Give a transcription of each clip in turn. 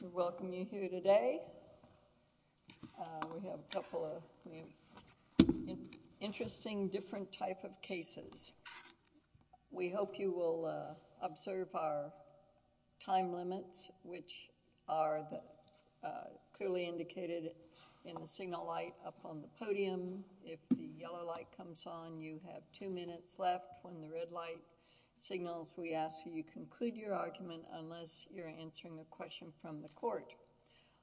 We welcome you here today. We have a couple of interesting different type of cases. We hope you will observe our time limits, which are clearly indicated in the signal light up on the podium. If the yellow light comes on, you have two minutes left. When the red light signals, we ask that you conclude your argument unless you are answering a question from the court.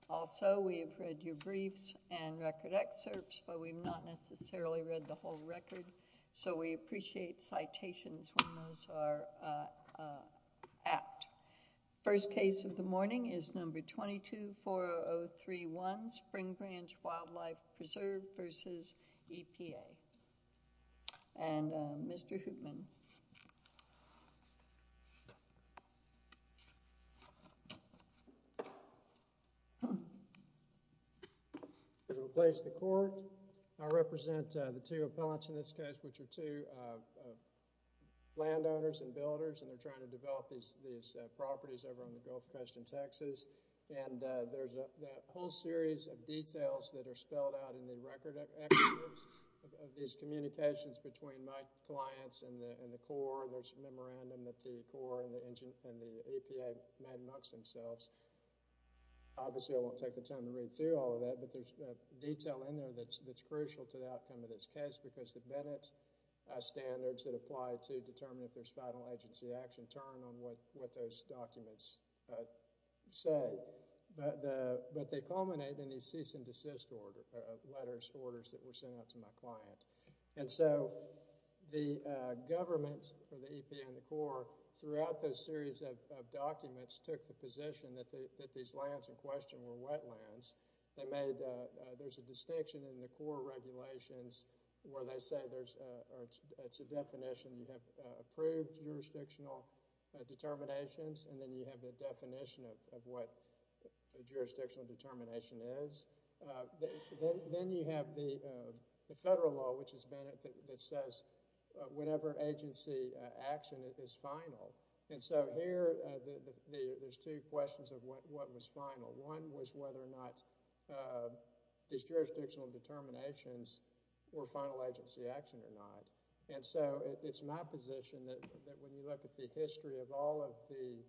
Also, we have read your briefs and record excerpts, but we have not necessarily read the whole record, so we appreciate citations when those are apt. First case of the morning is No. 22-40031, Spring Branch Wildlife Preserve v. EPA. Mr. Hoopman. I represent the two appellants in this case, which are two landowners and builders, and there is a whole series of details that are spelled out in the record excerpts of these communications between my clients and the Corps. There is a memorandum that the Corps and the EPA made amongst themselves. Obviously, I won't take the time to read through all of that, but there is detail in there that is crucial to the outcome of this case because the Bennett standards that apply to determine if there is final agency action turn on what those documents say, but they culminate in these cease and desist letters, orders that were sent out to my client. The government, or the EPA and the Corps, throughout those series of documents took the position that these lands in question were wetlands. There is a distinction in the Corps regulations where they say, it is a definition, you have approved jurisdictional determinations, and then you have the definition of what a jurisdictional determination is. Then you have the federal law, which is Bennett, that says whatever agency action is final. Here, there are two questions of what was final. One was whether or not these jurisdictional determinations were final agency action or not. It is my position that when you look at the history of all of the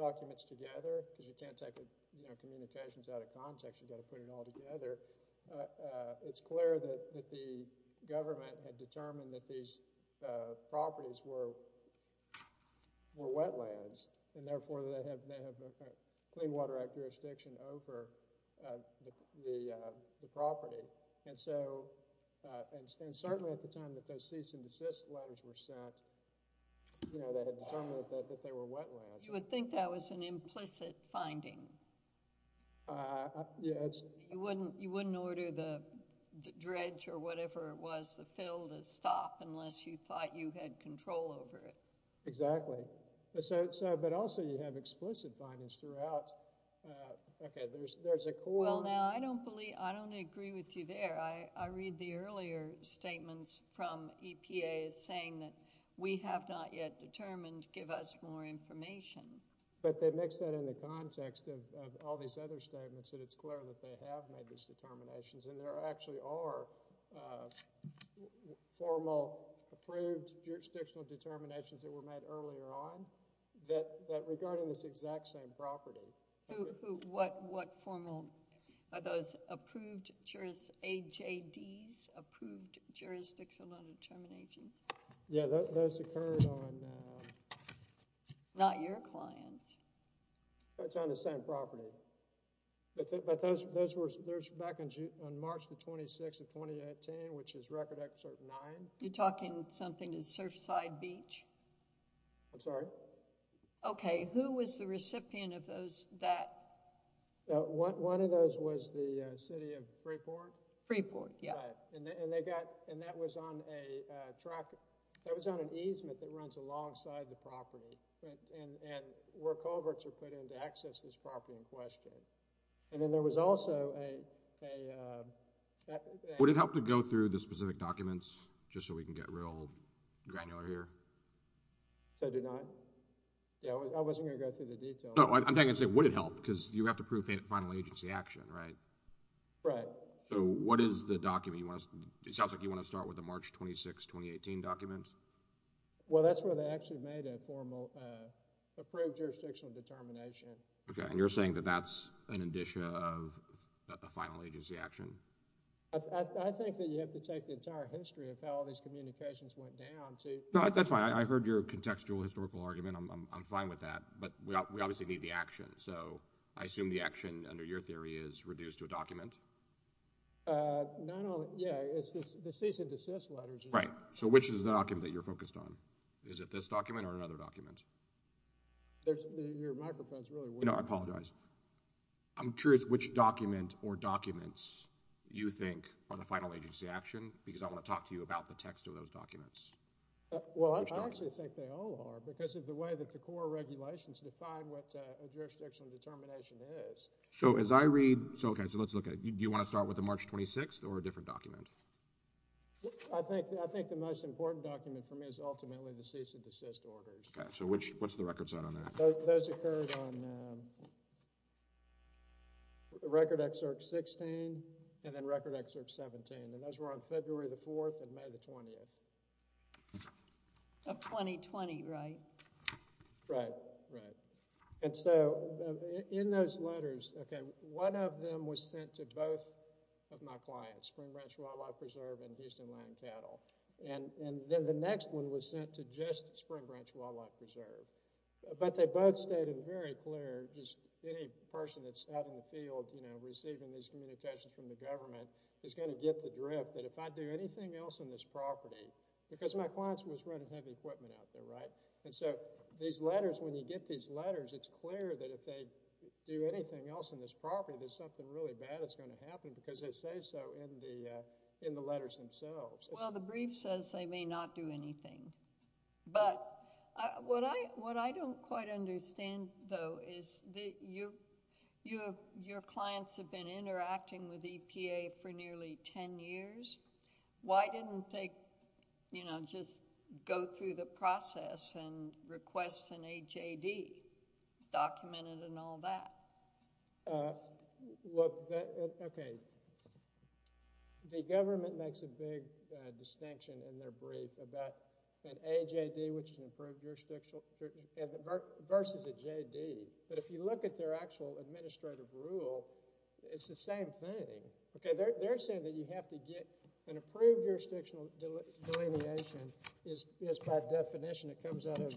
documents together, because you can't take communications out of context, you have to put it all together, it is clear that the government had determined that these properties were wetlands, and therefore they have a Clean Water Act jurisdiction over the property. Certainly at the time that those cease and desist letters were sent, they had determined that they were wetlands. You would think that was an implicit finding. You wouldn't order the dredge or whatever it was, the fill, to stop unless you thought you had control over it. Exactly. But also you have explicit findings throughout. Well, now, I don't agree with you there. I read the earlier statements from EPA saying that we have not yet determined, give us more information. But they mix that in the context of all these other statements, and it's clear that they have made these determinations, and there actually are formal, approved jurisdictional determinations that were made earlier on that regard in this exact same property. What formal? Are those approved, AJDs, Approved Jurisdictional Determinations? Yeah, those occurred on... Not your clients. That's on the same property. But those were back on March the 26th of 2018, which is Record Excerpt 9. You're talking something to Surfside Beach? I'm sorry? Okay, who was the recipient of that? One of those was the city of Freeport. Freeport, yeah. Right, and that was on an easement that runs alongside the property, and where culverts are put in to access this property in question. And then there was also a... Would it help to go through the specific documents, just so we can get real granular here? To deny? Yeah, I wasn't going to go through the details. No, I'm saying would it help, because you have to prove final agency action, right? Right. So what is the document? It sounds like you want to start with the March 26, 2018 document. Well, that's where they actually made a formal Approved Jurisdictional Determination. Okay, and you're saying that that's an addition of a final agency action? I think that you have to take the entire history of how all these communications went down to... No, that's fine. I heard your contextual historical argument. I'm fine with that. But we obviously need the action, so I assume the action under your theory is reduced to a document? Not only... yeah, it's the cease and desist letters. Right, so which is the document that you're focused on? Is it this document or another document? Your microphone is really weird. You know, I apologize. I'm curious which document or documents you think are the final agency action, because I want to talk to you about the text of those documents. Well, I actually think they all are, because of the way that the core regulations define what a jurisdictional determination is. So as I read... okay, so let's look at it. Do you want to start with the March 26 or a different document? I think the most important document for me is ultimately the cease and desist orders. Okay, so what's the record set on that? Those occurred on Record Excerpt 16 and then Record Excerpt 17. And those were on February the 4th and May the 20th. Of 2020, right? Right, right. And so in those letters, okay, one of them was sent to both of my clients, Spring Branch Wildlife Preserve and Houston Land Cattle. And then the next one was sent to just Spring Branch Wildlife Preserve. But they both stated very clear, just any person that's out in the field receiving these communications from the government is going to get the drift that if I do anything else on this property... because my client was running heavy equipment out there, right? And so these letters, when you get these letters, it's clear that if they do anything else on this property, there's something really bad that's going to happen, because they say so in the letters themselves. Well, the brief says they may not do anything. But what I don't quite understand, though, is that your clients have been interacting with EPA for nearly 10 years. Why didn't they just go through the process and request an AJD, document it and all that? Okay, the government makes a big distinction in their brief about an AJD, which is an approved jurisdictional... versus a JD. But if you look at their actual administrative rule, it's the same thing. Okay, they're saying that you have to get an approved jurisdictional delineation. It's by definition, it comes out of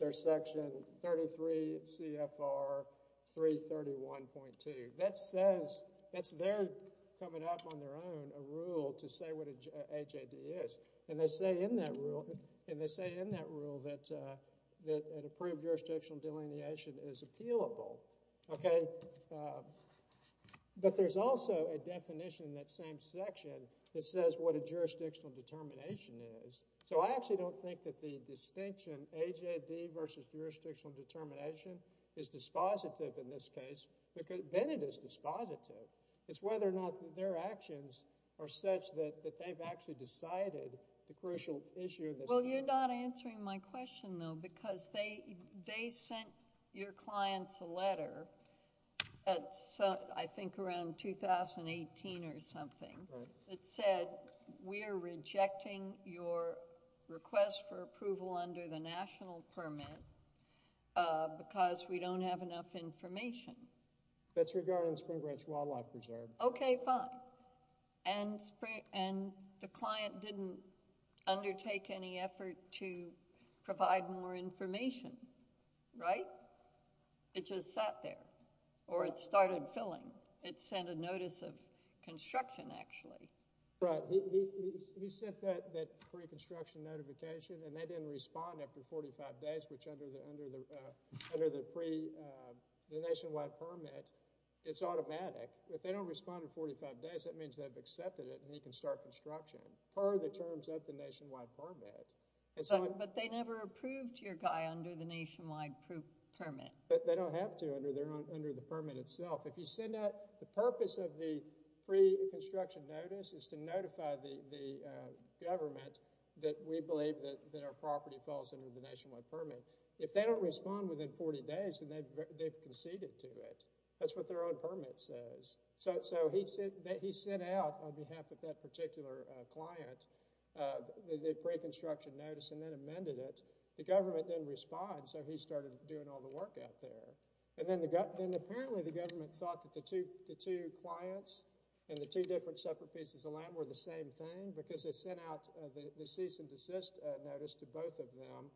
their section 33 CFR 331.2. That says... that's their coming up on their own, a rule to say what an AJD is. And they say in that rule that an approved jurisdictional delineation is appealable. Okay, but there's also a definition in that same section that says what a jurisdictional determination is. So, I actually don't think that the distinction, AJD versus jurisdictional determination, is dispositive in this case. Then it is dispositive. It's whether or not their actions are such that they've actually decided the crucial issue in this case. Well, you're not answering my question, though, because they sent your clients a letter, I think around 2018 or something... Right.... that said, we are rejecting your request for approval under the national permit, because we don't have enough information. That's regarding Spring Branch Wildlife Reserve. Okay, fine. And the client didn't undertake any effort to provide more information, right? It just sat there, or it started filling. It sent a notice of construction, actually. Right. He sent that pre-construction notification, and they didn't respond after 45 days, which under the nationwide permit, it's automatic. If they don't respond in 45 days, that means they've accepted it and they can start construction, per the terms of the nationwide permit. But, they never approved your guy under the nationwide permit. But, they don't have to under the permit itself. If you send that, the purpose of the pre-construction notice is to notify the government that we believe that our property falls under the nationwide permit. If they don't respond within 40 days, then they've conceded to it. That's what their own permit says. So, he sent out, on behalf of that particular client, the pre-construction notice and then amended it. The government didn't respond, so he started doing all the work out there. And then, apparently, the government thought that the two clients and the two different separate pieces of land were the same thing, because they sent out the cease and desist notice to both of them.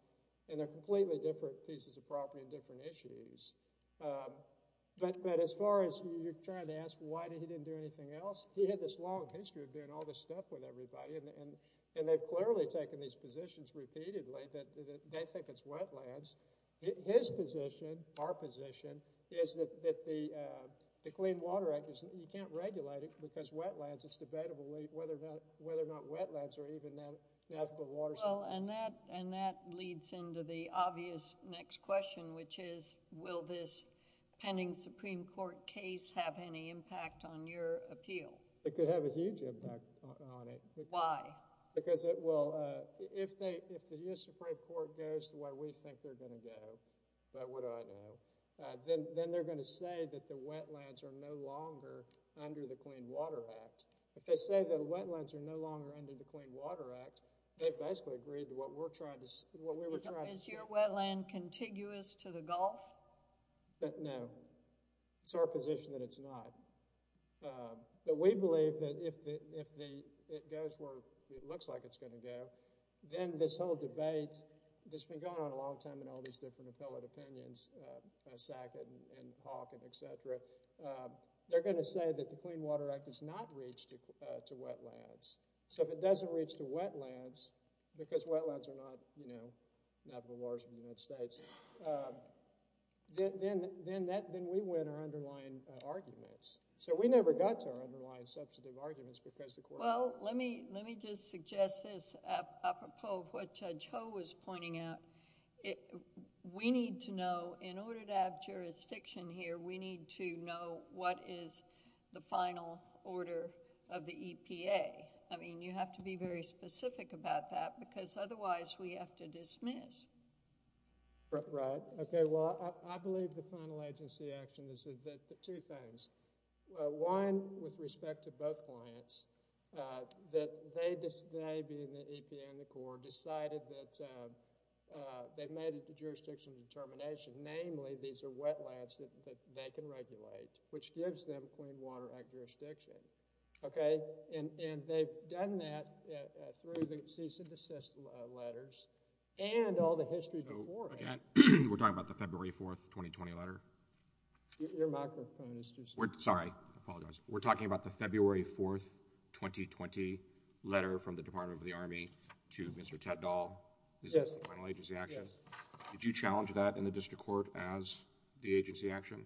And, they're completely different pieces of property and different issues. But, as far as you're trying to ask why he didn't do anything else, he had this long history of doing all this stuff with everybody. And, they've clearly taken these positions repeatedly that they think it's wetlands. His position, our position, is that the Clean Water Act, you can't regulate it because wetlands. It's debatable whether or not wetlands are even an affable water source. Well, and that leads into the obvious next question, which is, will this pending Supreme Court case have any impact on your appeal? It could have a huge impact on it. Why? Because, well, if the U.S. Supreme Court goes the way we think they're going to go, but what do I know, then they're going to say that the wetlands are no longer under the Clean Water Act. If they say the wetlands are no longer under the Clean Water Act, they've basically agreed to what we're trying to say. Is your wetland contiguous to the Gulf? No. It's our position that it's not. But, we believe that if it goes where it looks like it's going to go, then this whole debate that's been going on a long time in all these different appellate opinions, Sackett and Hawkins, etc., they're going to say that the Clean Water Act does not reach to wetlands. So, if it doesn't reach to wetlands, because wetlands are not, you know, not the waters of the United States, then we win our underlying arguments. So, we never got to our underlying substantive arguments because the court— Well, let me just suggest this. Apropos of what Judge Ho was pointing out, we need to know, in order to have jurisdiction here, we need to know what is the final order of the EPA. I mean, you have to be very specific about that, because otherwise we have to dismiss. Right. Okay, well, I believe the final agency action is two things. One, with respect to both clients, that they, being the EPA and the court, decided that they made a jurisdictional determination. Namely, these are wetlands that they can regulate, which gives them Clean Water Act jurisdiction. Okay? And they've done that through the cease and desist letters. And all the history beforehand. So, again, we're talking about the February 4th, 2020 letter. Your microphone is too small. Sorry, I apologize. We're talking about the February 4th, 2020 letter from the Department of the Army to Mr. Teddall. Yes. This is the final agency action. Yes. Did you challenge that in the district court as the agency action?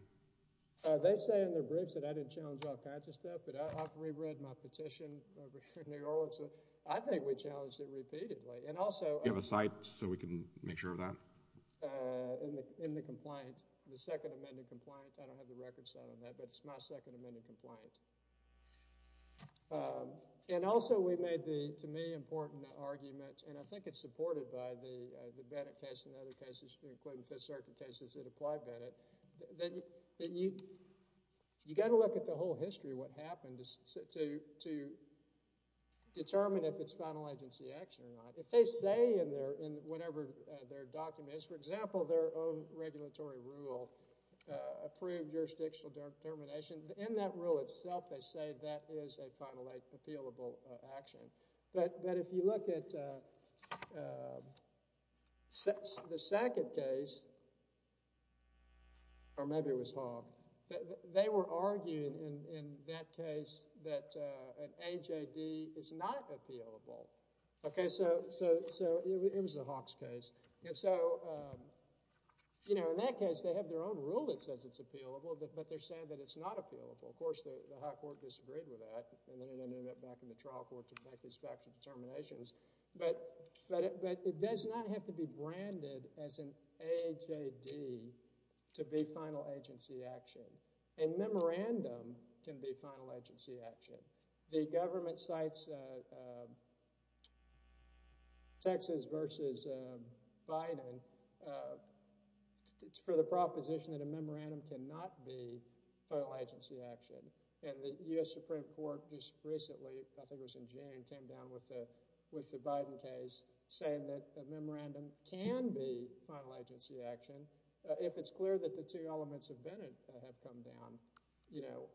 They say in their briefs that I didn't challenge all kinds of stuff, but I've reread my petition over here in New York, so I think we challenged it repeatedly. And also... Do you have a site so we can make sure of that? In the complaint, the second amended complaint. I don't have the record set on that, but it's my second amended complaint. And also, we made the, to me, important argument, and I think it's supported by the Bennett case and other cases, including Fifth Circuit cases that apply Bennett, that you've got to look at the whole history of what happened to determine if it's final agency action or not. If they say in whatever their document is, for example, their own regulatory rule, approved jurisdictional determination, in that rule itself they say that is a final appealable action. But if you look at the second case, or maybe it was Hogg, they were arguing in that case that an AJD is not appealable. Okay, so it was the Hogg's case. And so, you know, in that case they have their own rule that says it's appealable, but they're saying that it's not appealable. Of course, the High Court disagreed with that, and then it ended up back in the trial court to make these factual determinations. But it does not have to be branded as an AJD to be final agency action. A memorandum can be final agency action. The government cites Texas versus Biden for the proposition that a memorandum cannot be final agency action. And the U.S. Supreme Court just recently, I think it was in June, came down with the Biden case saying that a memorandum can be final agency action if it's clear that the two elements of Bennett have come down. You know,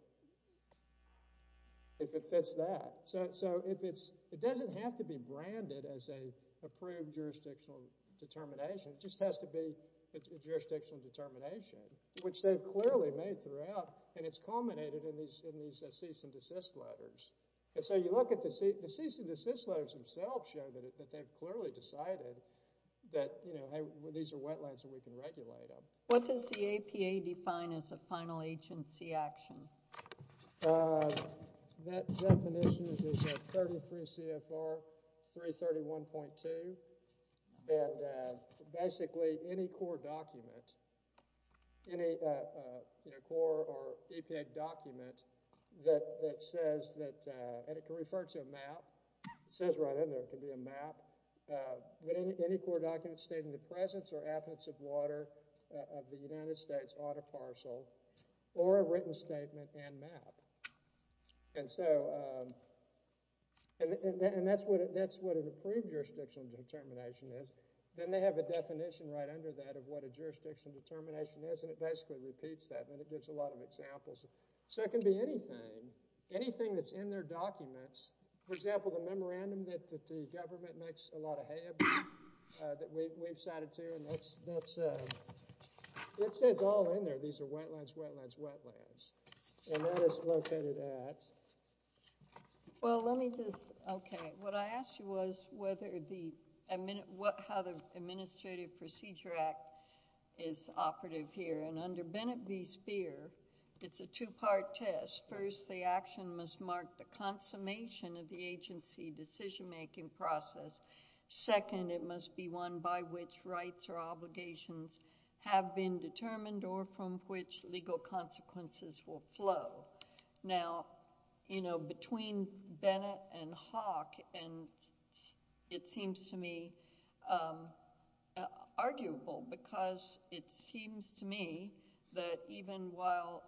if it fits that. So it doesn't have to be branded as an approved jurisdictional determination. It just has to be a jurisdictional determination, which they've clearly made throughout, and it's culminated in these cease and desist letters. And so you look at the cease and desist letters themselves show that they've clearly decided that, you know, these are wetlands and we can regulate them. What does the APA define as a final agency action? That definition is a 33 CFR 331.2. And basically any core document, any core or APA document that says that, and it can refer to a map. It says right in there it can be a map. Any core document stating the presence or absence of water of the United States ought to parcel or a written statement and map. And so, and that's what an approved jurisdictional determination is. Then they have a definition right under that of what a jurisdictional determination is, and it basically repeats that, and it gives a lot of examples. So it can be anything, anything that's in their documents. For example, the memorandum that the government makes a lot of hay about, that we've cited too, and that's, it says all in there, these are wetlands, wetlands, wetlands. And that is located at? Well, let me just, okay. What I asked you was whether the, how the Administrative Procedure Act is operative here. And under Bennett v. Speer, it's a two-part test. First, the action must mark the consummation of the agency decision-making process. Second, it must be one by which rights or obligations have been determined or from which legal consequences will flow. Now, you know, between Bennett and Hawk, and it seems to me arguable, because it seems to me that even while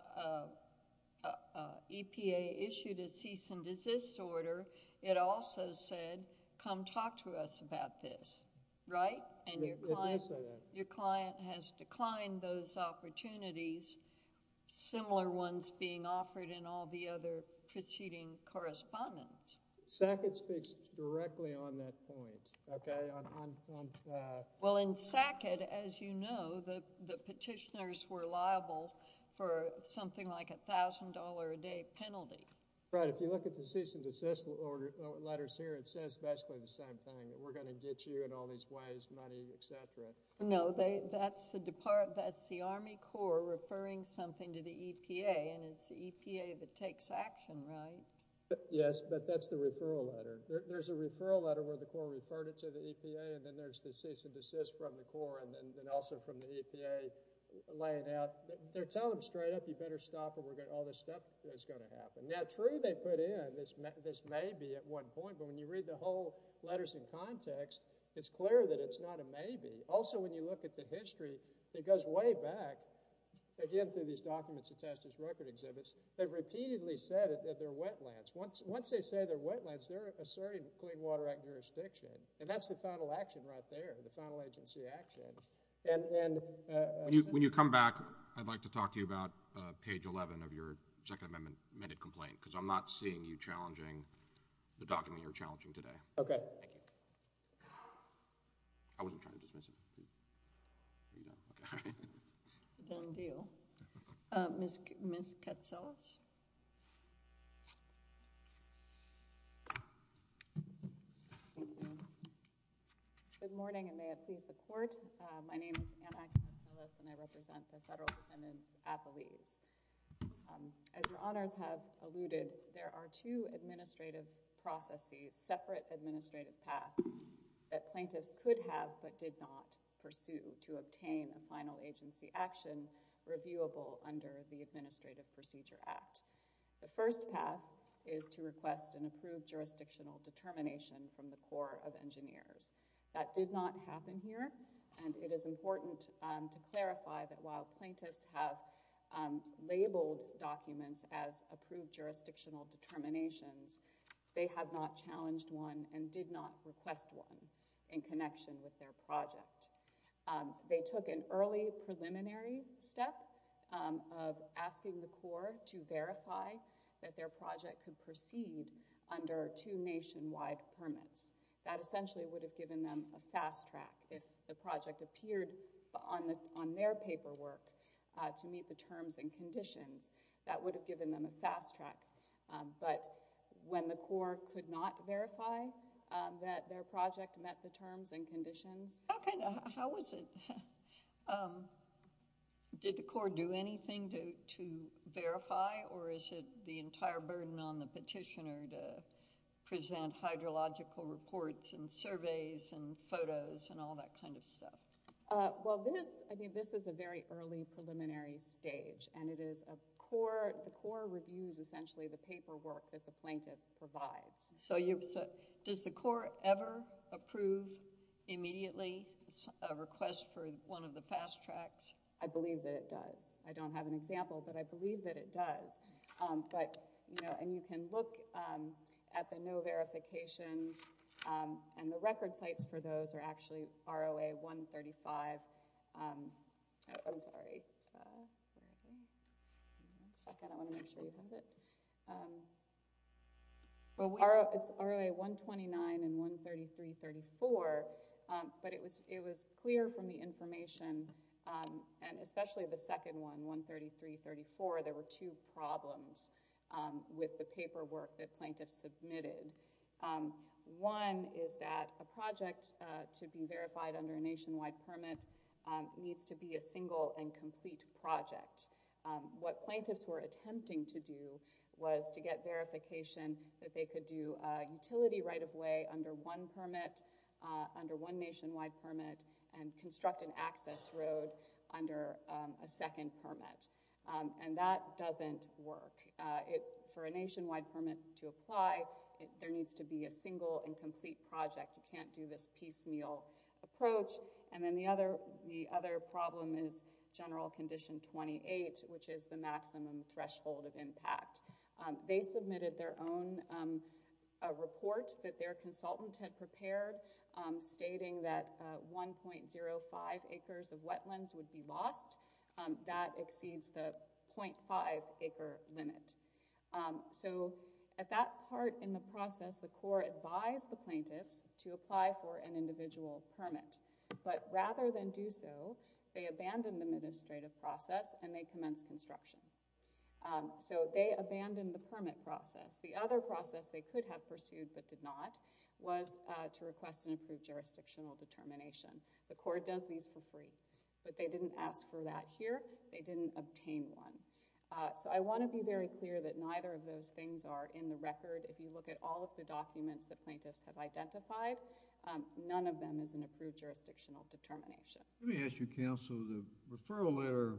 EPA issued a cease-and-desist order, it also said, come talk to us about this, right? And your client has declined those opportunities, similar ones being offered in all the other preceding correspondence. Sackett speaks directly on that point, okay? Well, in Sackett, as you know, the petitioners were liable for something like a $1,000 a day penalty. Right, if you look at the cease-and-desist letters here, it says basically the same thing, that we're going to get you in all these ways, money, et cetera. No, that's the Army Corps referring something to the EPA, and it's the EPA that takes action, right? Yes, but that's the referral letter. There's a referral letter where the Corps referred it to the EPA, and then there's the cease-and-desist from the Corps, and then also from the EPA laying out. They're telling them straight up, you better stop, or all this stuff is going to happen. Now, true, they put in this maybe at one point, but when you read the whole letters in context, it's clear that it's not a maybe. Also, when you look at the history, it goes way back, again, through these documents attached to these record exhibits, they've repeatedly said that they're wetlands. Once they say they're wetlands, they're asserting Clean Water Act jurisdiction, and that's the final action right there, the final agency action. When you come back, I'd like to talk to you about page 11 of your Second Amendment complaint, because I'm not seeing you challenging the document you're challenging today. Okay. Thank you. I wasn't trying to dismiss it. Are you done? Okay, all right. Done deal. Ms. Katsilas? Good morning, and may it please the Court. My name is Anna Katsilas, and I represent the federal defendants at Belize. As your honors have alluded, there are two administrative processes, separate administrative paths that plaintiffs could have but did not pursue to obtain a final agency action reviewable under the Administrative Procedure Act. The first path is to request an approved jurisdictional determination from the Corps of Engineers. That did not happen here, and it is important to clarify that while plaintiffs have labeled documents as approved jurisdictional determinations, they have not challenged one and did not request one in connection with their project. They took an early preliminary step of asking the Corps to verify that their project could proceed under two nationwide permits. That essentially would have given them a fast track. If the project appeared on their paperwork to meet the terms and conditions, that would have given them a fast track. But when the Corps could not verify that their project met the terms and conditions— How was it? Did the Corps do anything to verify, or is it the entire burden on the petitioner to present hydrological reports and surveys and photos and all that kind of stuff? This is a very early preliminary stage, and the Corps reviews essentially the paperwork that the plaintiff provides. Does the Corps ever approve immediately a request for one of the fast tracks? I believe that it does. I don't have an example, but I believe that it does. You can look at the no verifications, and the record sites for those are actually ROA-135. It's ROA-129 and 133-34, but it was clear from the information, and especially the second one, 133-34, there were two problems with the paperwork that plaintiffs submitted. One is that a project to be verified under a nationwide permit needs to be a single and complete project. What plaintiffs were attempting to do was to get verification that they could do a utility right-of-way under one permit, under one nationwide permit, and construct an access road under a second permit. That doesn't work. For a nationwide permit to apply, there needs to be a single and complete project. You can't do this piecemeal approach. Then the other problem is General Condition 28, which is the maximum threshold of impact. They submitted their own report that their consultant had prepared, stating that 1.05 acres of wetlands would be lost. That exceeds the 0.5 acre limit. At that part in the process, the Corps advised the plaintiffs to apply for an individual permit, but rather than do so, they abandoned the administrative process and they commenced construction. They abandoned the permit process. The other process they could have pursued but did not was to request an approved jurisdictional determination. The Corps does these for free, but they didn't ask for that here. They didn't obtain one. I want to be very clear that neither of those things are in the record. If you look at all of the documents that plaintiffs have identified, none of them is an approved jurisdictional determination. Let me ask you, Counsel, the referral letter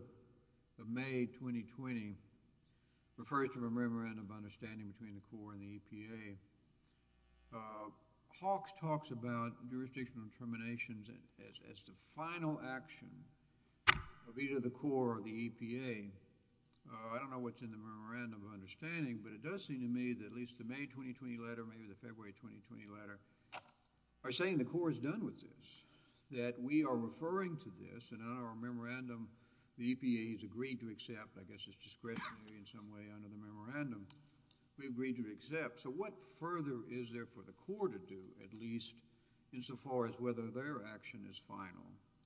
of May 2020 refers to a memorandum of understanding between the Corps and the EPA. Hawks talks about jurisdictional determinations as the final action of either the Corps or the EPA. I don't know what's in the memorandum of understanding, but it does seem to me that at least the May 2020 letter, maybe the February 2020 letter, are saying the Corps is done with this, that we are referring to this. In our memorandum, the EPA has agreed to accept. I guess it's discretionary in some way under the memorandum. We agreed to accept. What further is there for the Corps to do, at least insofar as whether their action is final?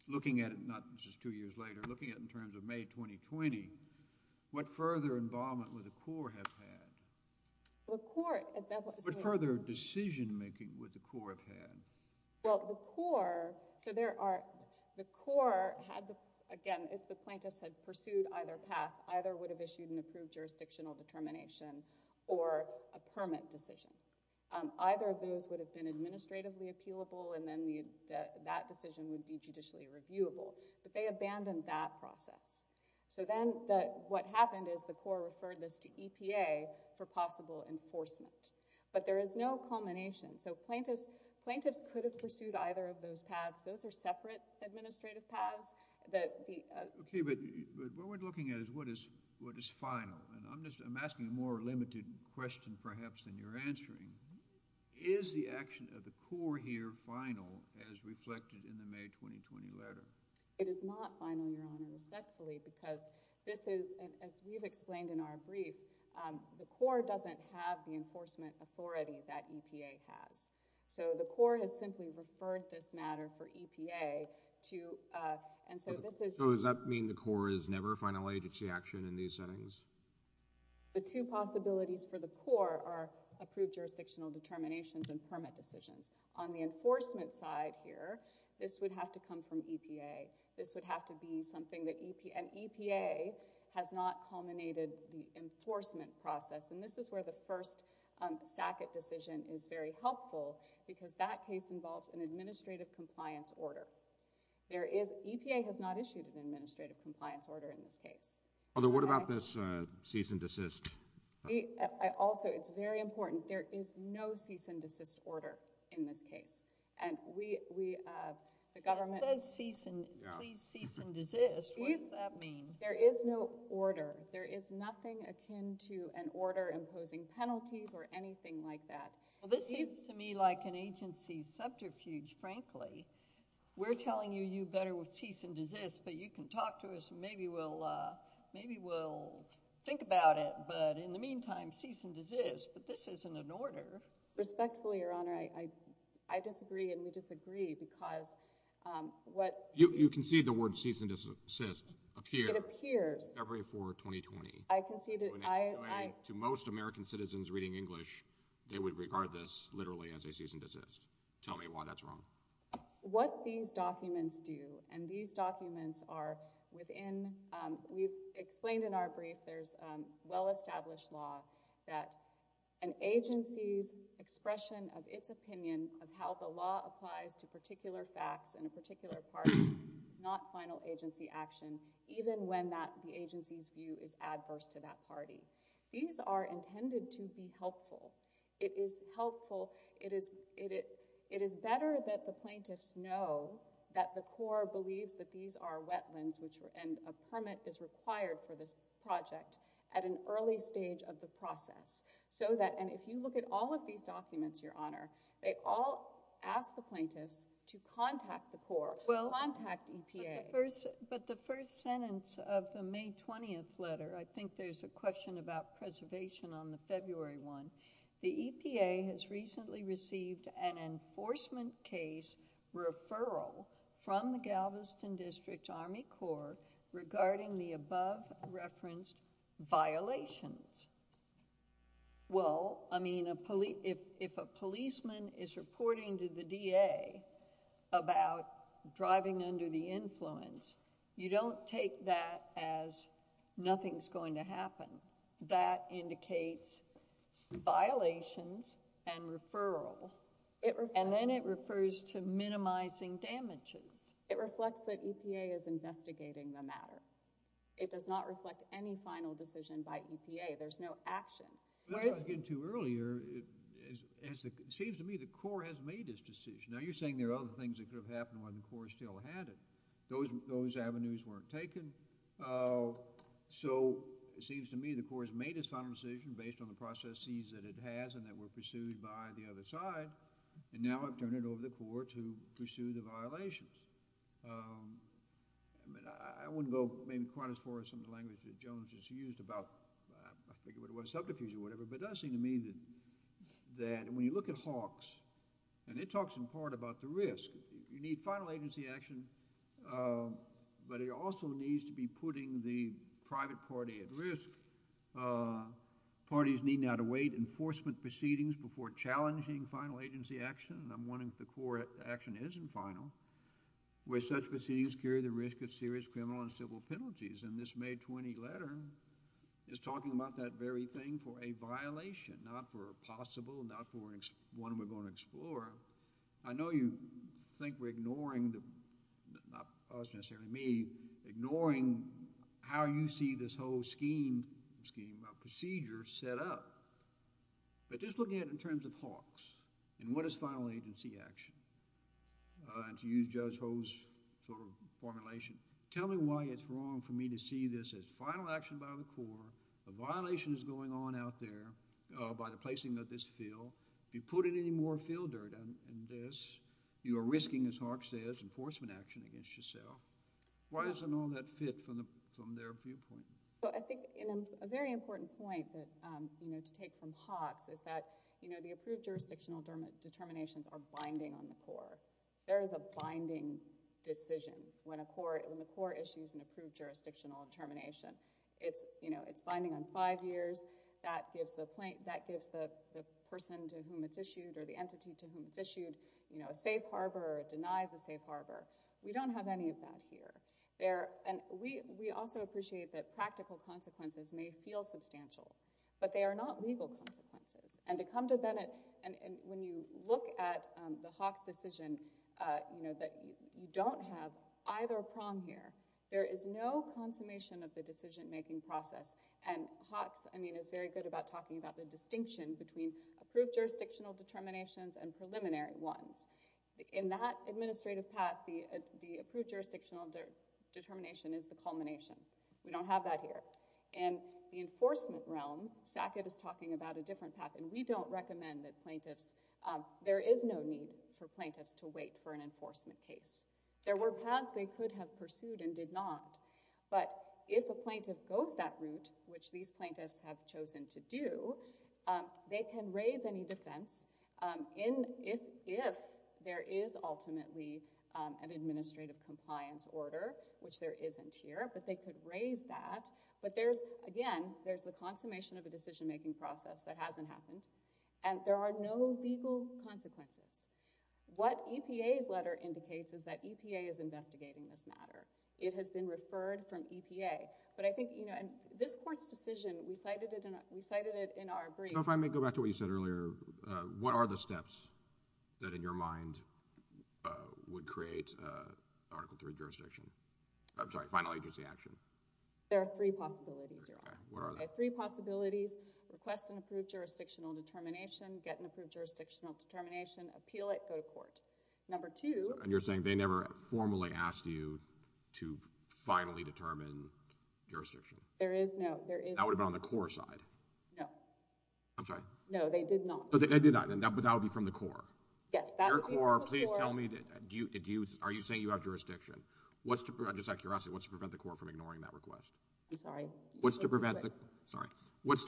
Looking at it, not just two years later, looking at it in terms of May 2020, what further involvement would the Corps have had? What further decision-making would the Corps have had? The Corps, again, if the plaintiffs had pursued either path, either would have issued an approved jurisdictional determination or a permit decision. Either of those would have been administratively appealable, and then that decision would be judicially reviewable, but they abandoned that process. Then what happened is the Corps referred this to EPA for possible enforcement, but there is no culmination. Plaintiffs could have pursued either of those paths. Those are separate administrative paths. What we're looking at is what is final. I'm asking a more limited question, perhaps, than you're answering. Is the action of the Corps here final as reflected in the May 2020 letter? It is not final, Your Honor, respectfully, because this is, as we've explained in our brief, the Corps doesn't have the enforcement authority that EPA has. The Corps has simply referred this matter for EPA to— Does that mean the Corps is never a final agency action in these settings? The two possibilities for the Corps are approved jurisdictional determinations and permit decisions. On the enforcement side here, this would have to come from EPA. This would have to be something that—and EPA has not culminated the enforcement process. This is where the first SACCET decision is very helpful because that case involves an administrative compliance order. EPA has not issued an administrative compliance order in this case. What about this cease and desist? Also, it's very important. There is no cease and desist order in this case. It says cease and—please cease and desist. What does that mean? There is no order. There is nothing akin to an order imposing penalties or anything like that. Well, this seems to me like an agency subterfuge, frankly. We're telling you you better cease and desist, but you can talk to us. Maybe we'll think about it, but in the meantime, cease and desist. But this isn't an order. Respectfully, Your Honor, I disagree, and we disagree because what— You concede the word cease and desist appears February 4, 2020. I concede it. To most American citizens reading English, they would regard this literally as a cease and desist. Tell me why that's wrong. What these documents do, and these documents are within—we've explained in our brief, there's well-established law that an agency's expression of its opinion of how the law applies to particular facts in a particular party is not final agency action, even when the agency's view is adverse to that party. These are intended to be helpful. It is helpful—it is better that the plaintiffs know that the Corps believes that these are wetlands and a permit is required for this project at an early stage of the process so that— and if you look at all of these documents, Your Honor, they all ask the plaintiffs to contact the Corps, contact EPA. But the first sentence of the May 20th letter, I think there's a question about preservation on the February one, the EPA has recently received an enforcement case referral from the Galveston District Army Corps regarding the above-referenced violations. Well, I mean, if a policeman is reporting to the DA about driving under the influence, you don't take that as nothing's going to happen. That indicates violations and referral, and then it refers to minimizing damages. It reflects that EPA is investigating the matter. It does not reflect any final decision by EPA. There's no action. What I was getting to earlier, it seems to me the Corps has made its decision. Now, you're saying there are other things that could have happened while the Corps still had it. Those avenues weren't taken. So it seems to me the Corps has made its final decision based on the processes that it has and that were pursued by the other side, and now have turned it over to the Corps to pursue the violations. I mean, I wouldn't go maybe quite as far as some of the language that Jones just used about— I forget what it was, subterfuge or whatever, but it does seem to me that when you look at HAWQS, and it talks in part about the risk, you need final agency action, but it also needs to be putting the private party at risk. Parties need not await enforcement proceedings before challenging final agency action, and I'm wondering if the Corps' action isn't final, where such proceedings carry the risk of serious criminal and civil penalties. And this May 20 letter is talking about that very thing for a violation, not for a possible, not for one we're going to explore. I know you think we're ignoring the—not us, necessarily me— ignoring how you see this whole scheme, procedure set up, but just looking at it in terms of HAWQS and what is final agency action, and to use Judge Ho's formulation, tell me why it's wrong for me to see this as final action by the Corps, a violation is going on out there by the placing of this field. If you put any more field dirt in this, you are risking, as HAWQS says, enforcement action against yourself. Why doesn't all that fit from their viewpoint? I think a very important point to take from HAWQS is that the approved jurisdictional determinations are binding on the Corps. There is a binding decision when the Corps issues an approved jurisdictional determination. It's binding on five years. That gives the person to whom it's issued, or the entity to whom it's issued, a safe harbor or denies a safe harbor. We don't have any of that here. We also appreciate that practical consequences may feel substantial, but they are not legal consequences. And to come to Bennett, and when you look at the HAWQS decision, you don't have either prong here. There is no consummation of the decision-making process, and HAWQS is very good about talking about the distinction between approved jurisdictional determinations and preliminary ones. In that administrative path, the approved jurisdictional determination is the culmination. We don't have that here. In the enforcement realm, SACID is talking about a different path, and we don't recommend that plaintiffs – there is no need for plaintiffs to wait for an enforcement case. There were paths they could have pursued and did not, but if a plaintiff goes that route, which these plaintiffs have chosen to do, they can raise any defense if there is ultimately an administrative compliance order, which there isn't here, but they could raise that. But again, there's the consummation of a decision-making process that hasn't happened, and there are no legal consequences. What EPA's letter indicates is that EPA is investigating this matter. It has been referred from EPA. But I think this Court's decision, we cited it in our brief. So if I may go back to what you said earlier, what are the steps that in your mind would create Article III jurisdiction? I'm sorry, final agency action. There are three possibilities, Your Honor. Okay. What are they? Three possibilities. Request an approved jurisdictional determination. Get an approved jurisdictional determination. Appeal it. Go to court. And you're saying they never formally asked you to finally determine jurisdiction? There is, no. That would have been on the core side. No. I'm sorry. No, they did not. They did not, but that would be from the core. Yes, that would be from the core. Your core, please tell me, are you saying you have jurisdiction? Just out of curiosity, what's to prevent the core from ignoring that request? I'm sorry. What's to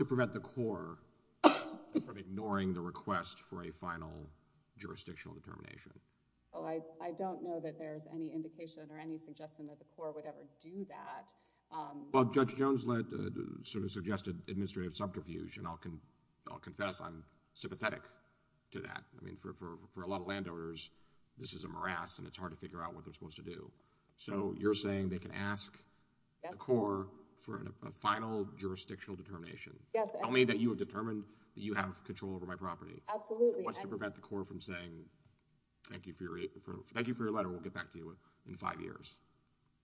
prevent the core from ignoring the request for a final jurisdictional determination? Oh, I don't know that there's any indication or any suggestion that the core would ever do that. Well, Judge Jones suggested administrative subterfuge, and I'll confess I'm sympathetic to that. I mean, for a lot of landowners, this is a morass, and it's hard to figure out what they're supposed to do. So you're saying they can ask the core for a final jurisdictional determination? Yes. Tell me that you have determined that you have control over my property. Absolutely. What's to prevent the core from saying, thank you for your letter, we'll get back to you in five years?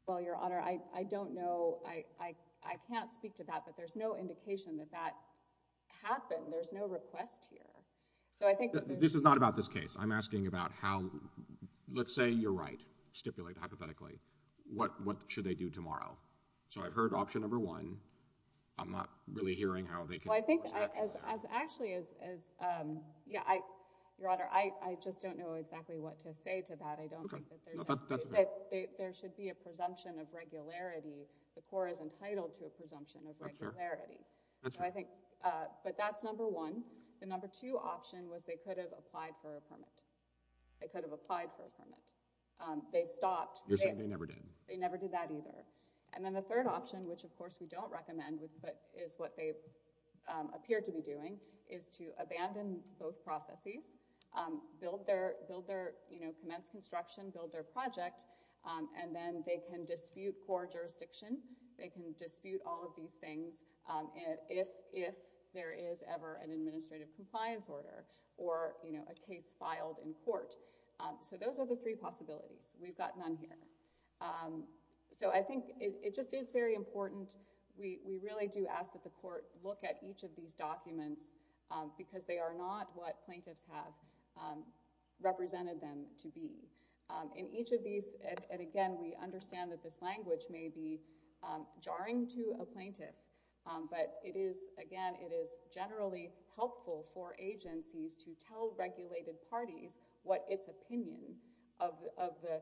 Well, Your Honor, I don't know. I can't speak to that, but there's no indication that that happened. There's no request here. This is not about this case. I'm asking about how, let's say you're right, stipulate hypothetically, what should they do tomorrow? I'm not really hearing how they can do what's next. Actually, Your Honor, I just don't know exactly what to say to that. I don't think that there should be a presumption of regularity. The core is entitled to a presumption of regularity. But that's number one. The number two option was they could have applied for a permit. They could have applied for a permit. They stopped. You're saying they never did. They never did that either. And then the third option, which, of course, we don't recommend, but is what they appear to be doing, is to abandon both processes, build their, you know, commence construction, build their project, and then they can dispute core jurisdiction. They can dispute all of these things if there is ever an administrative compliance order or, you know, a case filed in court. So those are the three possibilities. We've got none here. So I think it just is very important. We really do ask that the court look at each of these documents because they are not what plaintiffs have represented them to be. In each of these, and, again, we understand that this language may be jarring to a plaintiff, but it is, again, it is generally helpful for agencies to tell regulated parties what its opinion of the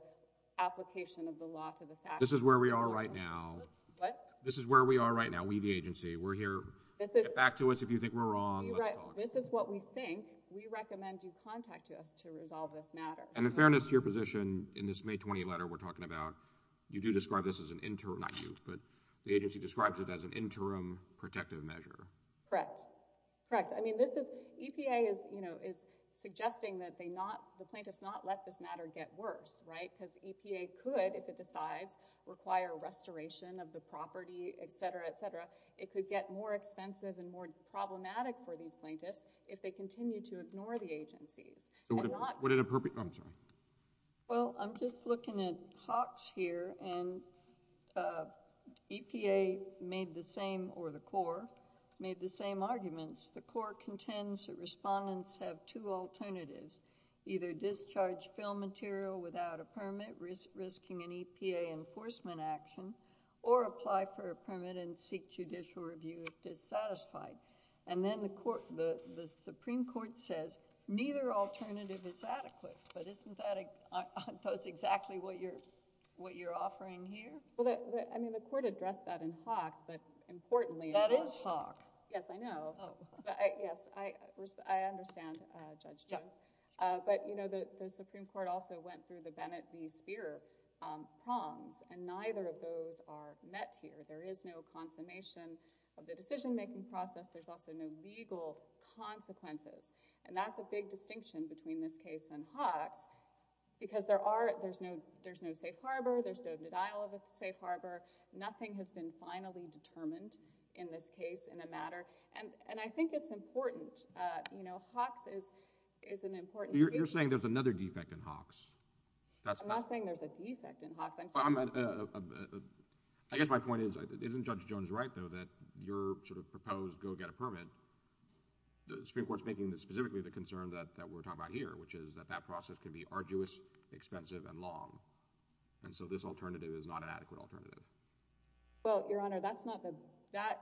application of the law to the facts is. This is where we are right now. What? This is where we are right now, we the agency. We're here. Get back to us if you think we're wrong. Let's talk. This is what we think. We recommend you contact us to resolve this matter. And in fairness to your position, in this May 20 letter we're talking about, you do describe this as an interim – not you, but the agency describes it as an interim protective measure. Correct. Correct. I mean, this is – EPA is, you know, is suggesting that they not – the plaintiffs not let this matter get worse, right, because EPA could, if it decides, require restoration of the property, et cetera, et cetera. It could get more expensive and more problematic for these plaintiffs if they continue to ignore the agencies. Would it – I'm sorry. Well, I'm just looking at Hawks here, and EPA made the same, or the Corps, made the same arguments. The Corps contends that respondents have two alternatives, either discharge film material without a permit, risking an EPA enforcement action, or apply for a permit and seek judicial review if dissatisfied. And then the Supreme Court says neither alternative is adequate, but isn't that – that's exactly what you're offering here? Well, I mean, the Court addressed that in Hawks, but importantly... That is Hawks. Yes, I know. Oh. Yes, I understand, Judge Jones. But, you know, the Supreme Court also went through the Bennett v. Speer prongs, and neither of those are met here. There is no consummation of the decision-making process. There's also no legal consequences. And that's a big distinction between this case and Hawks because there are – there's no safe harbor. There's no denial of a safe harbor. Nothing has been finally determined in this case in the matter. And I think it's important. Judge, you know, Hawks is an important issue. You're saying there's another defect in Hawks. I'm not saying there's a defect in Hawks. I guess my point is, isn't Judge Jones right, though, that your sort of proposed go-get-a-permit, the Supreme Court is making specifically the concern that we're talking about here, which is that that process can be arduous, expensive, and long, and so this alternative is not an adequate alternative. But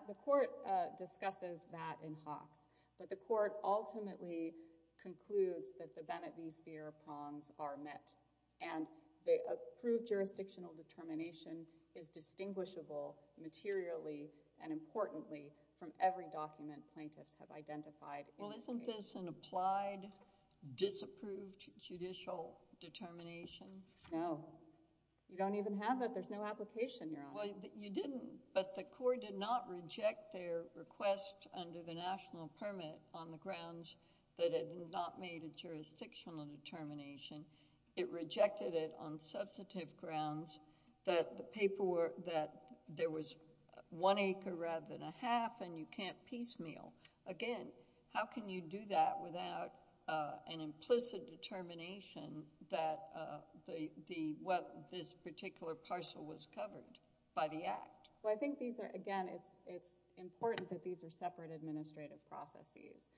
the court ultimately concludes that the Bennett v. Speer prongs are met. And the approved jurisdictional determination is distinguishable materially and importantly from every document plaintiffs have identified. Well, isn't this an applied, disapproved judicial determination? No. You don't even have that. There's no application you're on. Well, you didn't. But the court did not reject their request under the national permit on the grounds that it had not made a jurisdictional determination. It rejected it on substantive grounds that there was one acre rather than a half and you can't piecemeal. Again, how can you do that without an implicit determination that this particular parcel was covered by the Act? Well, I think, again, it's important that these are separate administrative processes.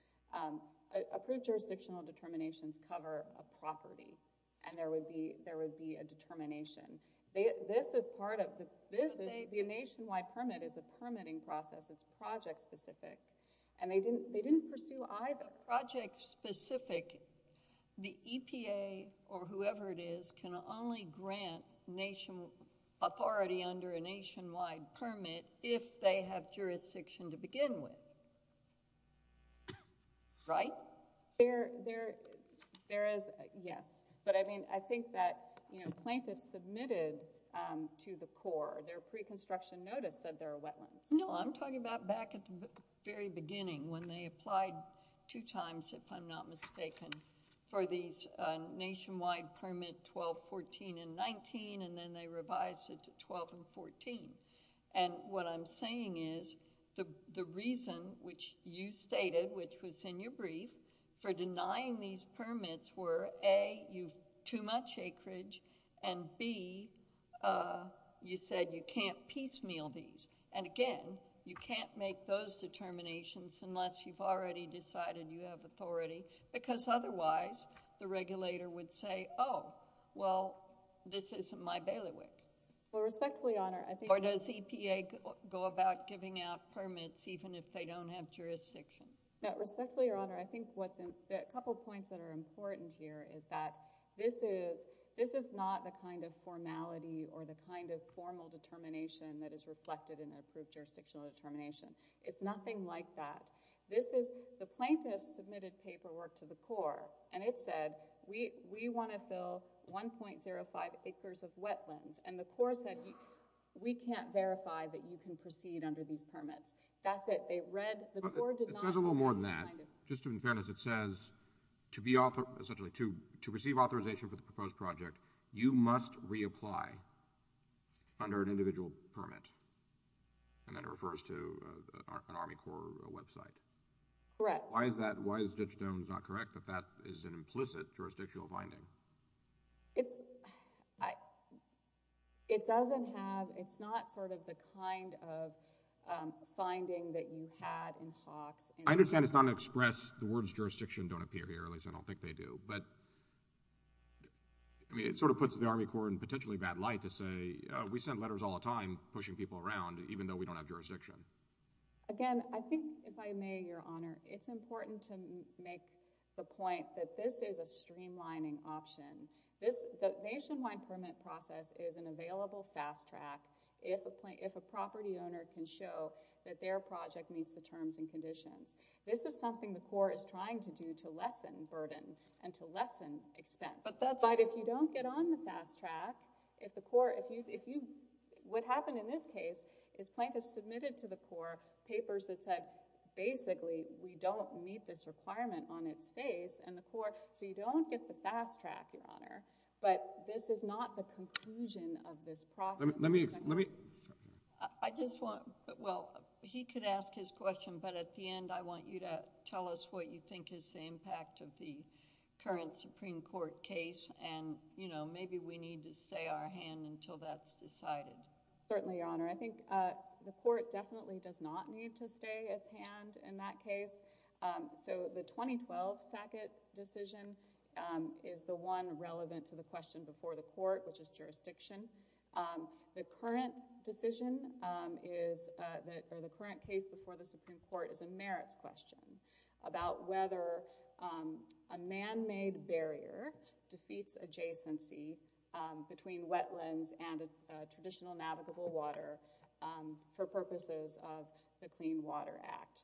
Approved jurisdictional determinations cover a property and there would be a determination. The nationwide permit is a permitting process. It's project-specific, and they didn't pursue either. But project-specific, the EPA or whoever it is can only grant authority under a nationwide permit if they have jurisdiction to begin with. Right? Yes. But, I mean, I think that plaintiffs submitted to the court their pre-construction notice that there are wetlands. No, I'm talking about back at the very beginning when they applied two times, if I'm not mistaken, for these nationwide permit 12, 14, and 19, and then they revised it to 12 and 14. And what I'm saying is the reason, which you stated, which was in your brief, for denying these permits were, A, too much acreage, and, B, you said you can't piecemeal these. And, again, you can't make those determinations unless you've already decided you have authority because otherwise the regulator would say, Oh, well, this isn't my bailiwick. Well, respectfully, Your Honor, I think... Or does EPA go about giving out permits even if they don't have jurisdiction? Respectfully, Your Honor, I think a couple of points that are important here is that this is not the kind of formality or the kind of formal determination that is reflected in an approved jurisdictional determination. It's nothing like that. The plaintiffs submitted paperwork to the Corps, and it said, We want to fill 1.05 acres of wetlands. And the Corps said, We can't verify that you can proceed under these permits. That's it. It says a little more than that. Just in fairness, it says to receive authorization for the proposed project, you must reapply under an individual permit. And then it refers to an Army Corps website. Correct. Why is Ditch Stone's not correct that that is an implicit jurisdictional finding? It doesn't have... It's not sort of the kind of finding that you had in Hawks. I understand it's not an express... The words jurisdiction don't appear here, at least I don't think they do. But it sort of puts the Army Corps in potentially bad light to say, We send letters all the time pushing people around, even though we don't have jurisdiction. Again, I think, if I may, Your Honor, it's important to make the point that this is a streamlining option. The nationwide permit process is an available fast track if a property owner can show that their project meets the terms and conditions. This is something the Corps is trying to do to lessen burden and to lessen expense. But if you don't get on the fast track, if the Corps... What happened in this case is plaintiffs submitted to the Corps papers that said, basically, we don't meet this requirement on its face, and the Corps... So you don't get the fast track, Your Honor. But this is not the conclusion of this process. Let me... I just want... Well, he could ask his question, but at the end, I want you to tell us what you think is the impact of the current Supreme Court case, and maybe we need to stay our hand until that's decided. Certainly, Your Honor. I think the Court definitely does not need to stay its hand in that case. So the 2012 Sackett decision is the one relevant to the question before the Court, which is jurisdiction. The current decision is... Or the current case before the Supreme Court is a merits question about whether a man-made barrier defeats adjacency between wetlands and traditional navigable water for purposes of the Clean Water Act.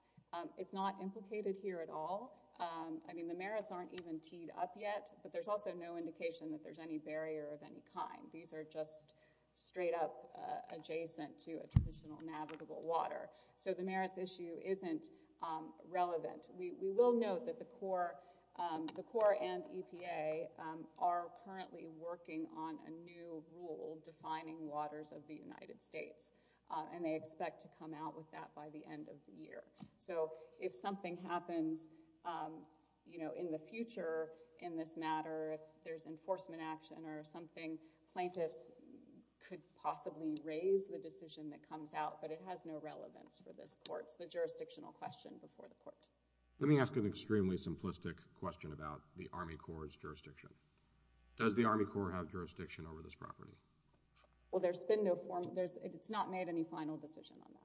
It's not implicated here at all. I mean, the merits aren't even teed up yet, but there's also no indication that there's any barrier of any kind. These are just straight up adjacent to a traditional navigable water. So the merits issue isn't relevant. We will note that the Court and EPA are currently working on a new rule defining waters of the United States, and they expect to come out with that by the end of the year. So if something happens in the future in this matter, if there's enforcement action or something, plaintiffs could possibly raise the decision that comes out, but it has no relevance for this Court. It's the jurisdictional question before the Court. Let me ask an extremely simplistic question about the Army Corps' jurisdiction. Does the Army Corps have jurisdiction over this property? Well, there's been no formal—it's not made any final decision on that.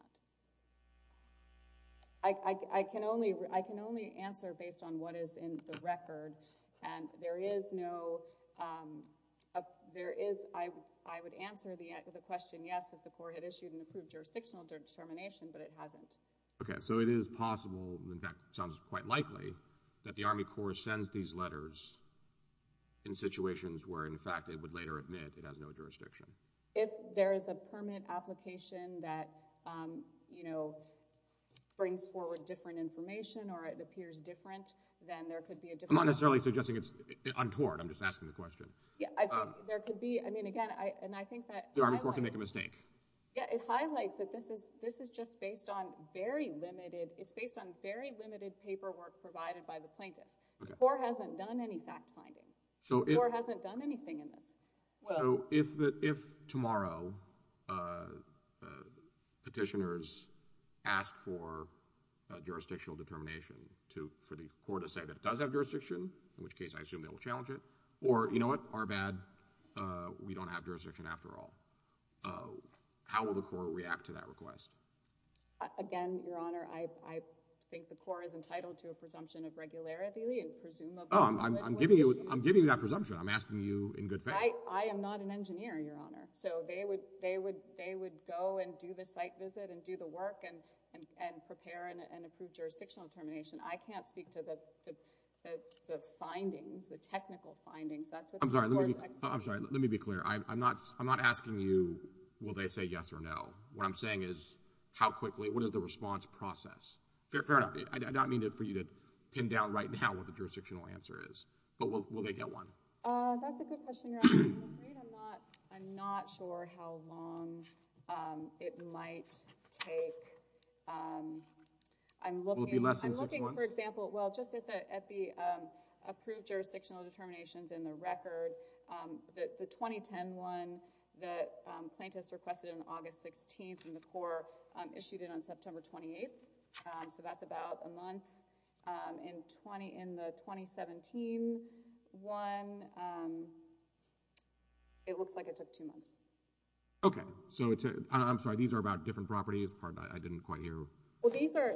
I can only answer based on what is in the record, and there is no—I would answer the question, yes, if the Corps had issued an approved jurisdictional determination, but it hasn't. Okay, so it is possible, in fact it sounds quite likely, that the Army Corps sends these letters in situations where, in fact, it would later admit it has no jurisdiction. If there is a permanent application that, you know, brings forward different information or it appears different, then there could be a different— I'm not necessarily suggesting it's untoward. I'm just asking the question. Yeah, there could be—I mean, again, and I think that— The Army Corps can make a mistake. Yeah, it highlights that this is just based on very limited— it's based on very limited paperwork provided by the plaintiff. The Corps hasn't done any fact-finding. The Corps hasn't done anything in this. So if tomorrow petitioners ask for a jurisdictional determination for the Corps to say that it does have jurisdiction, in which case I assume they will challenge it, or, you know what, our bad, we don't have jurisdiction after all, how will the Corps react to that request? Again, Your Honor, I think the Corps is entitled to a presumption of regularity and presumably— Oh, I'm giving you that presumption. I'm asking you in good faith. I am not an engineer, Your Honor, so they would go and do the site visit and do the work and prepare and approve jurisdictional determination. I can't speak to the findings, the technical findings. I'm sorry, let me be clear. I'm not asking you will they say yes or no. What I'm saying is how quickly—what is the response process? Fair enough. I don't mean for you to pin down right now what the jurisdictional answer is, but will they get one? That's a good question, Your Honor. I'm not sure how long it might take. Will it be less than six months? Well, just at the approved jurisdictional determinations in the record, the 2010 one that plaintiffs requested on August 16th and the Corps issued it on September 28th, so that's about a month. In the 2017 one, it looks like it took two months. Okay. I'm sorry, these are about different properties? Pardon, I didn't quite hear. Well, these are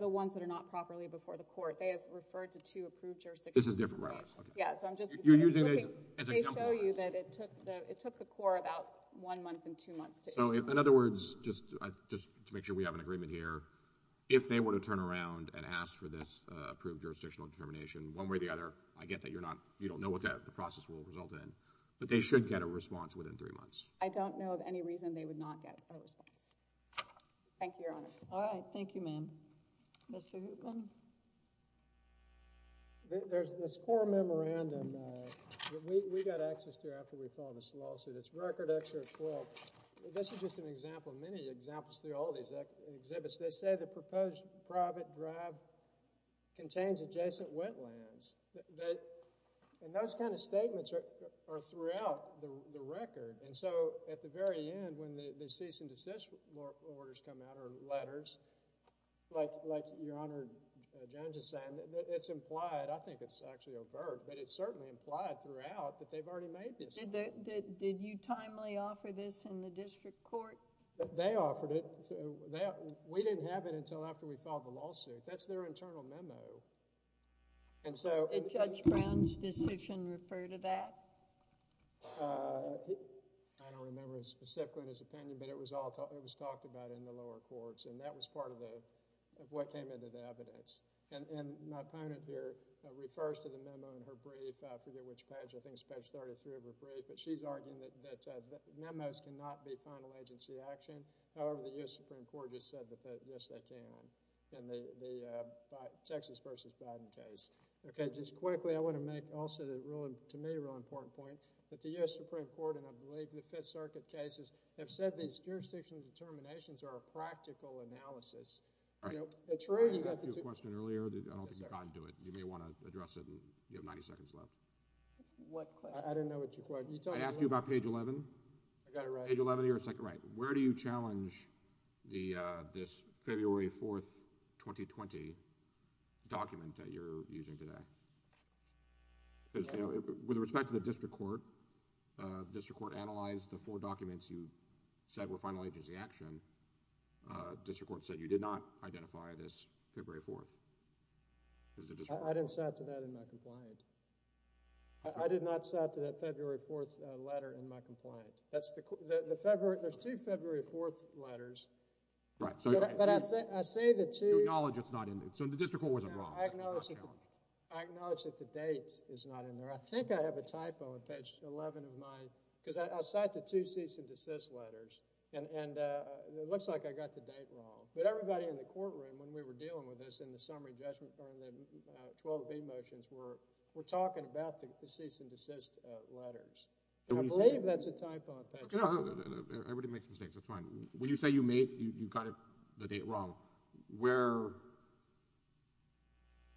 the ones that are not properly before the Court. They have referred to two approved jurisdictional determinations. This is different, right? Yeah, so I'm just— You're using this as an example? They show you that it took the Corps about one month and two months to issue. So in other words, just to make sure we have an agreement here, if they were to turn around and ask for this approved jurisdictional determination, one way or the other, I get that you don't know what the process will result in, but they should get a response within three months. I don't know of any reason they would not get a response. Thank you, Your Honor. All right. Thank you, ma'am. Mr. Hoopland? There's this Corps memorandum that we got access to after we filed this lawsuit. It's Record X or XII. This is just an example. Many examples through all these exhibits. They say the proposed private drive contains adjacent wetlands. And those kind of statements are throughout the record. And so at the very end, when the cease and desist orders come out or letters, like Your Honor Jones is saying, it's implied—I think it's actually overt, but it's certainly implied throughout that they've already made this. Did you timely offer this in the district court? They offered it. We didn't have it until after we filed the lawsuit. That's their internal memo. Did Judge Brown's decision refer to that? I don't remember specifically in his opinion, but it was talked about in the lower courts, and that was part of what came into the evidence. And my opponent here refers to the memo in her brief. I forget which page. I think it's page 33 of her brief. But she's arguing that memos cannot be final agency action. However, the U.S. Supreme Court just said that, yes, they can in the Texas v. Biden case. Okay, just quickly, I want to make also, to me, a real important point, that the U.S. Supreme Court and, I believe, the Fifth Circuit cases have said these jurisdictional determinations are a practical analysis. I asked you a question earlier. I don't think you got into it. You may want to address it. You have 90 seconds left. I don't know what your question is. I asked you about page 11. I got it right. Page 11, you're a second right. Where do you challenge this February 4, 2020 document that you're using today? With respect to the district court, the district court analyzed the four documents you said were final agency action. The district court said you did not identify this February 4. I didn't cite to that in my compliant. I did not cite to that February 4 letter in my compliant. There's two February 4 letters. Right. But I say the two— You acknowledge it's not in there. So the district court wasn't wrong. I acknowledge that the date is not in there. I think I have a typo in page 11 of my— because I cite the two cease and desist letters. And it looks like I got the date wrong. But everybody in the courtroom when we were dealing with this in the summary judgment or in the 12B motions were talking about the cease and desist letters. And I believe that's a typo in page 11. Everybody makes mistakes. That's fine. When you say you got the date wrong,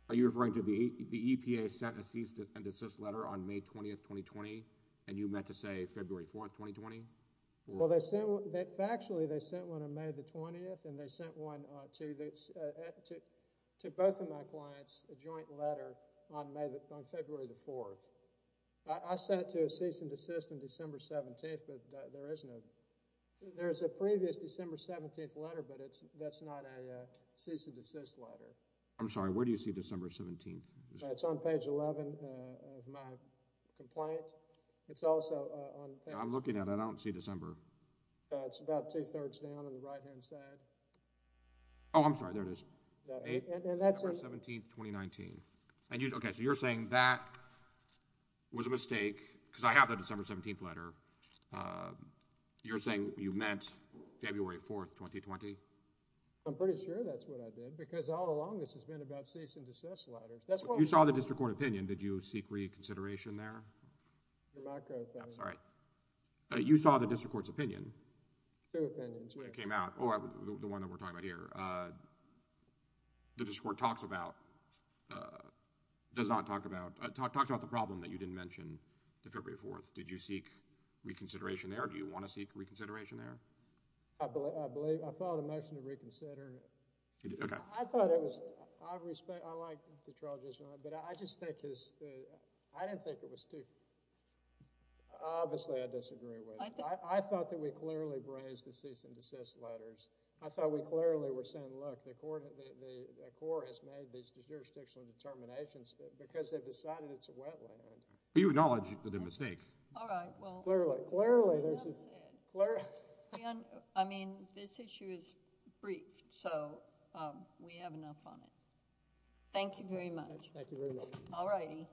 are you referring to the EPA sent a cease and desist letter on May 20, 2020, and you meant to say February 4, 2020? Well, they sent—factually they sent one on May 20, and they sent one to both of my clients, a joint letter, on February 4. I sent it to a cease and desist on December 17, but there is no— there's a previous December 17 letter, but that's not a cease and desist letter. I'm sorry. Where do you see December 17? It's on page 11 of my complaint. It's also on— I'm looking at it. I don't see December. It's about two-thirds down on the right-hand side. Oh, I'm sorry. There it is. And that's— February 17, 2019. Okay, so you're saying that was a mistake because I have the December 17 letter. You're saying you meant February 4, 2020? I'm pretty sure that's what I did because all along this has been about cease and desist letters. You saw the district court opinion. Did you seek reconsideration there? Your microphone. Yeah, sorry. You saw the district court's opinion. Two opinions. When it came out. Oh, the one that we're talking about here. The district court talks about—does not talk about—talks about the problem that you didn't mention the February 4th. Did you seek reconsideration there? Do you want to seek reconsideration there? I believe—I thought I mentioned reconsider. Okay. I thought it was—I respect—I like the charges, but I just think it's— I didn't think it was too—obviously, I disagree with it. I thought that we clearly raised the cease and desist letters. I thought we clearly were saying, look, the court has made these jurisdictional determinations because they've decided it's a wetland. Do you acknowledge that it's a mistake? All right, well— Clearly. Clearly. I mean, this issue is briefed, so we have enough on it. Thank you very much. Thank you very much. All righty.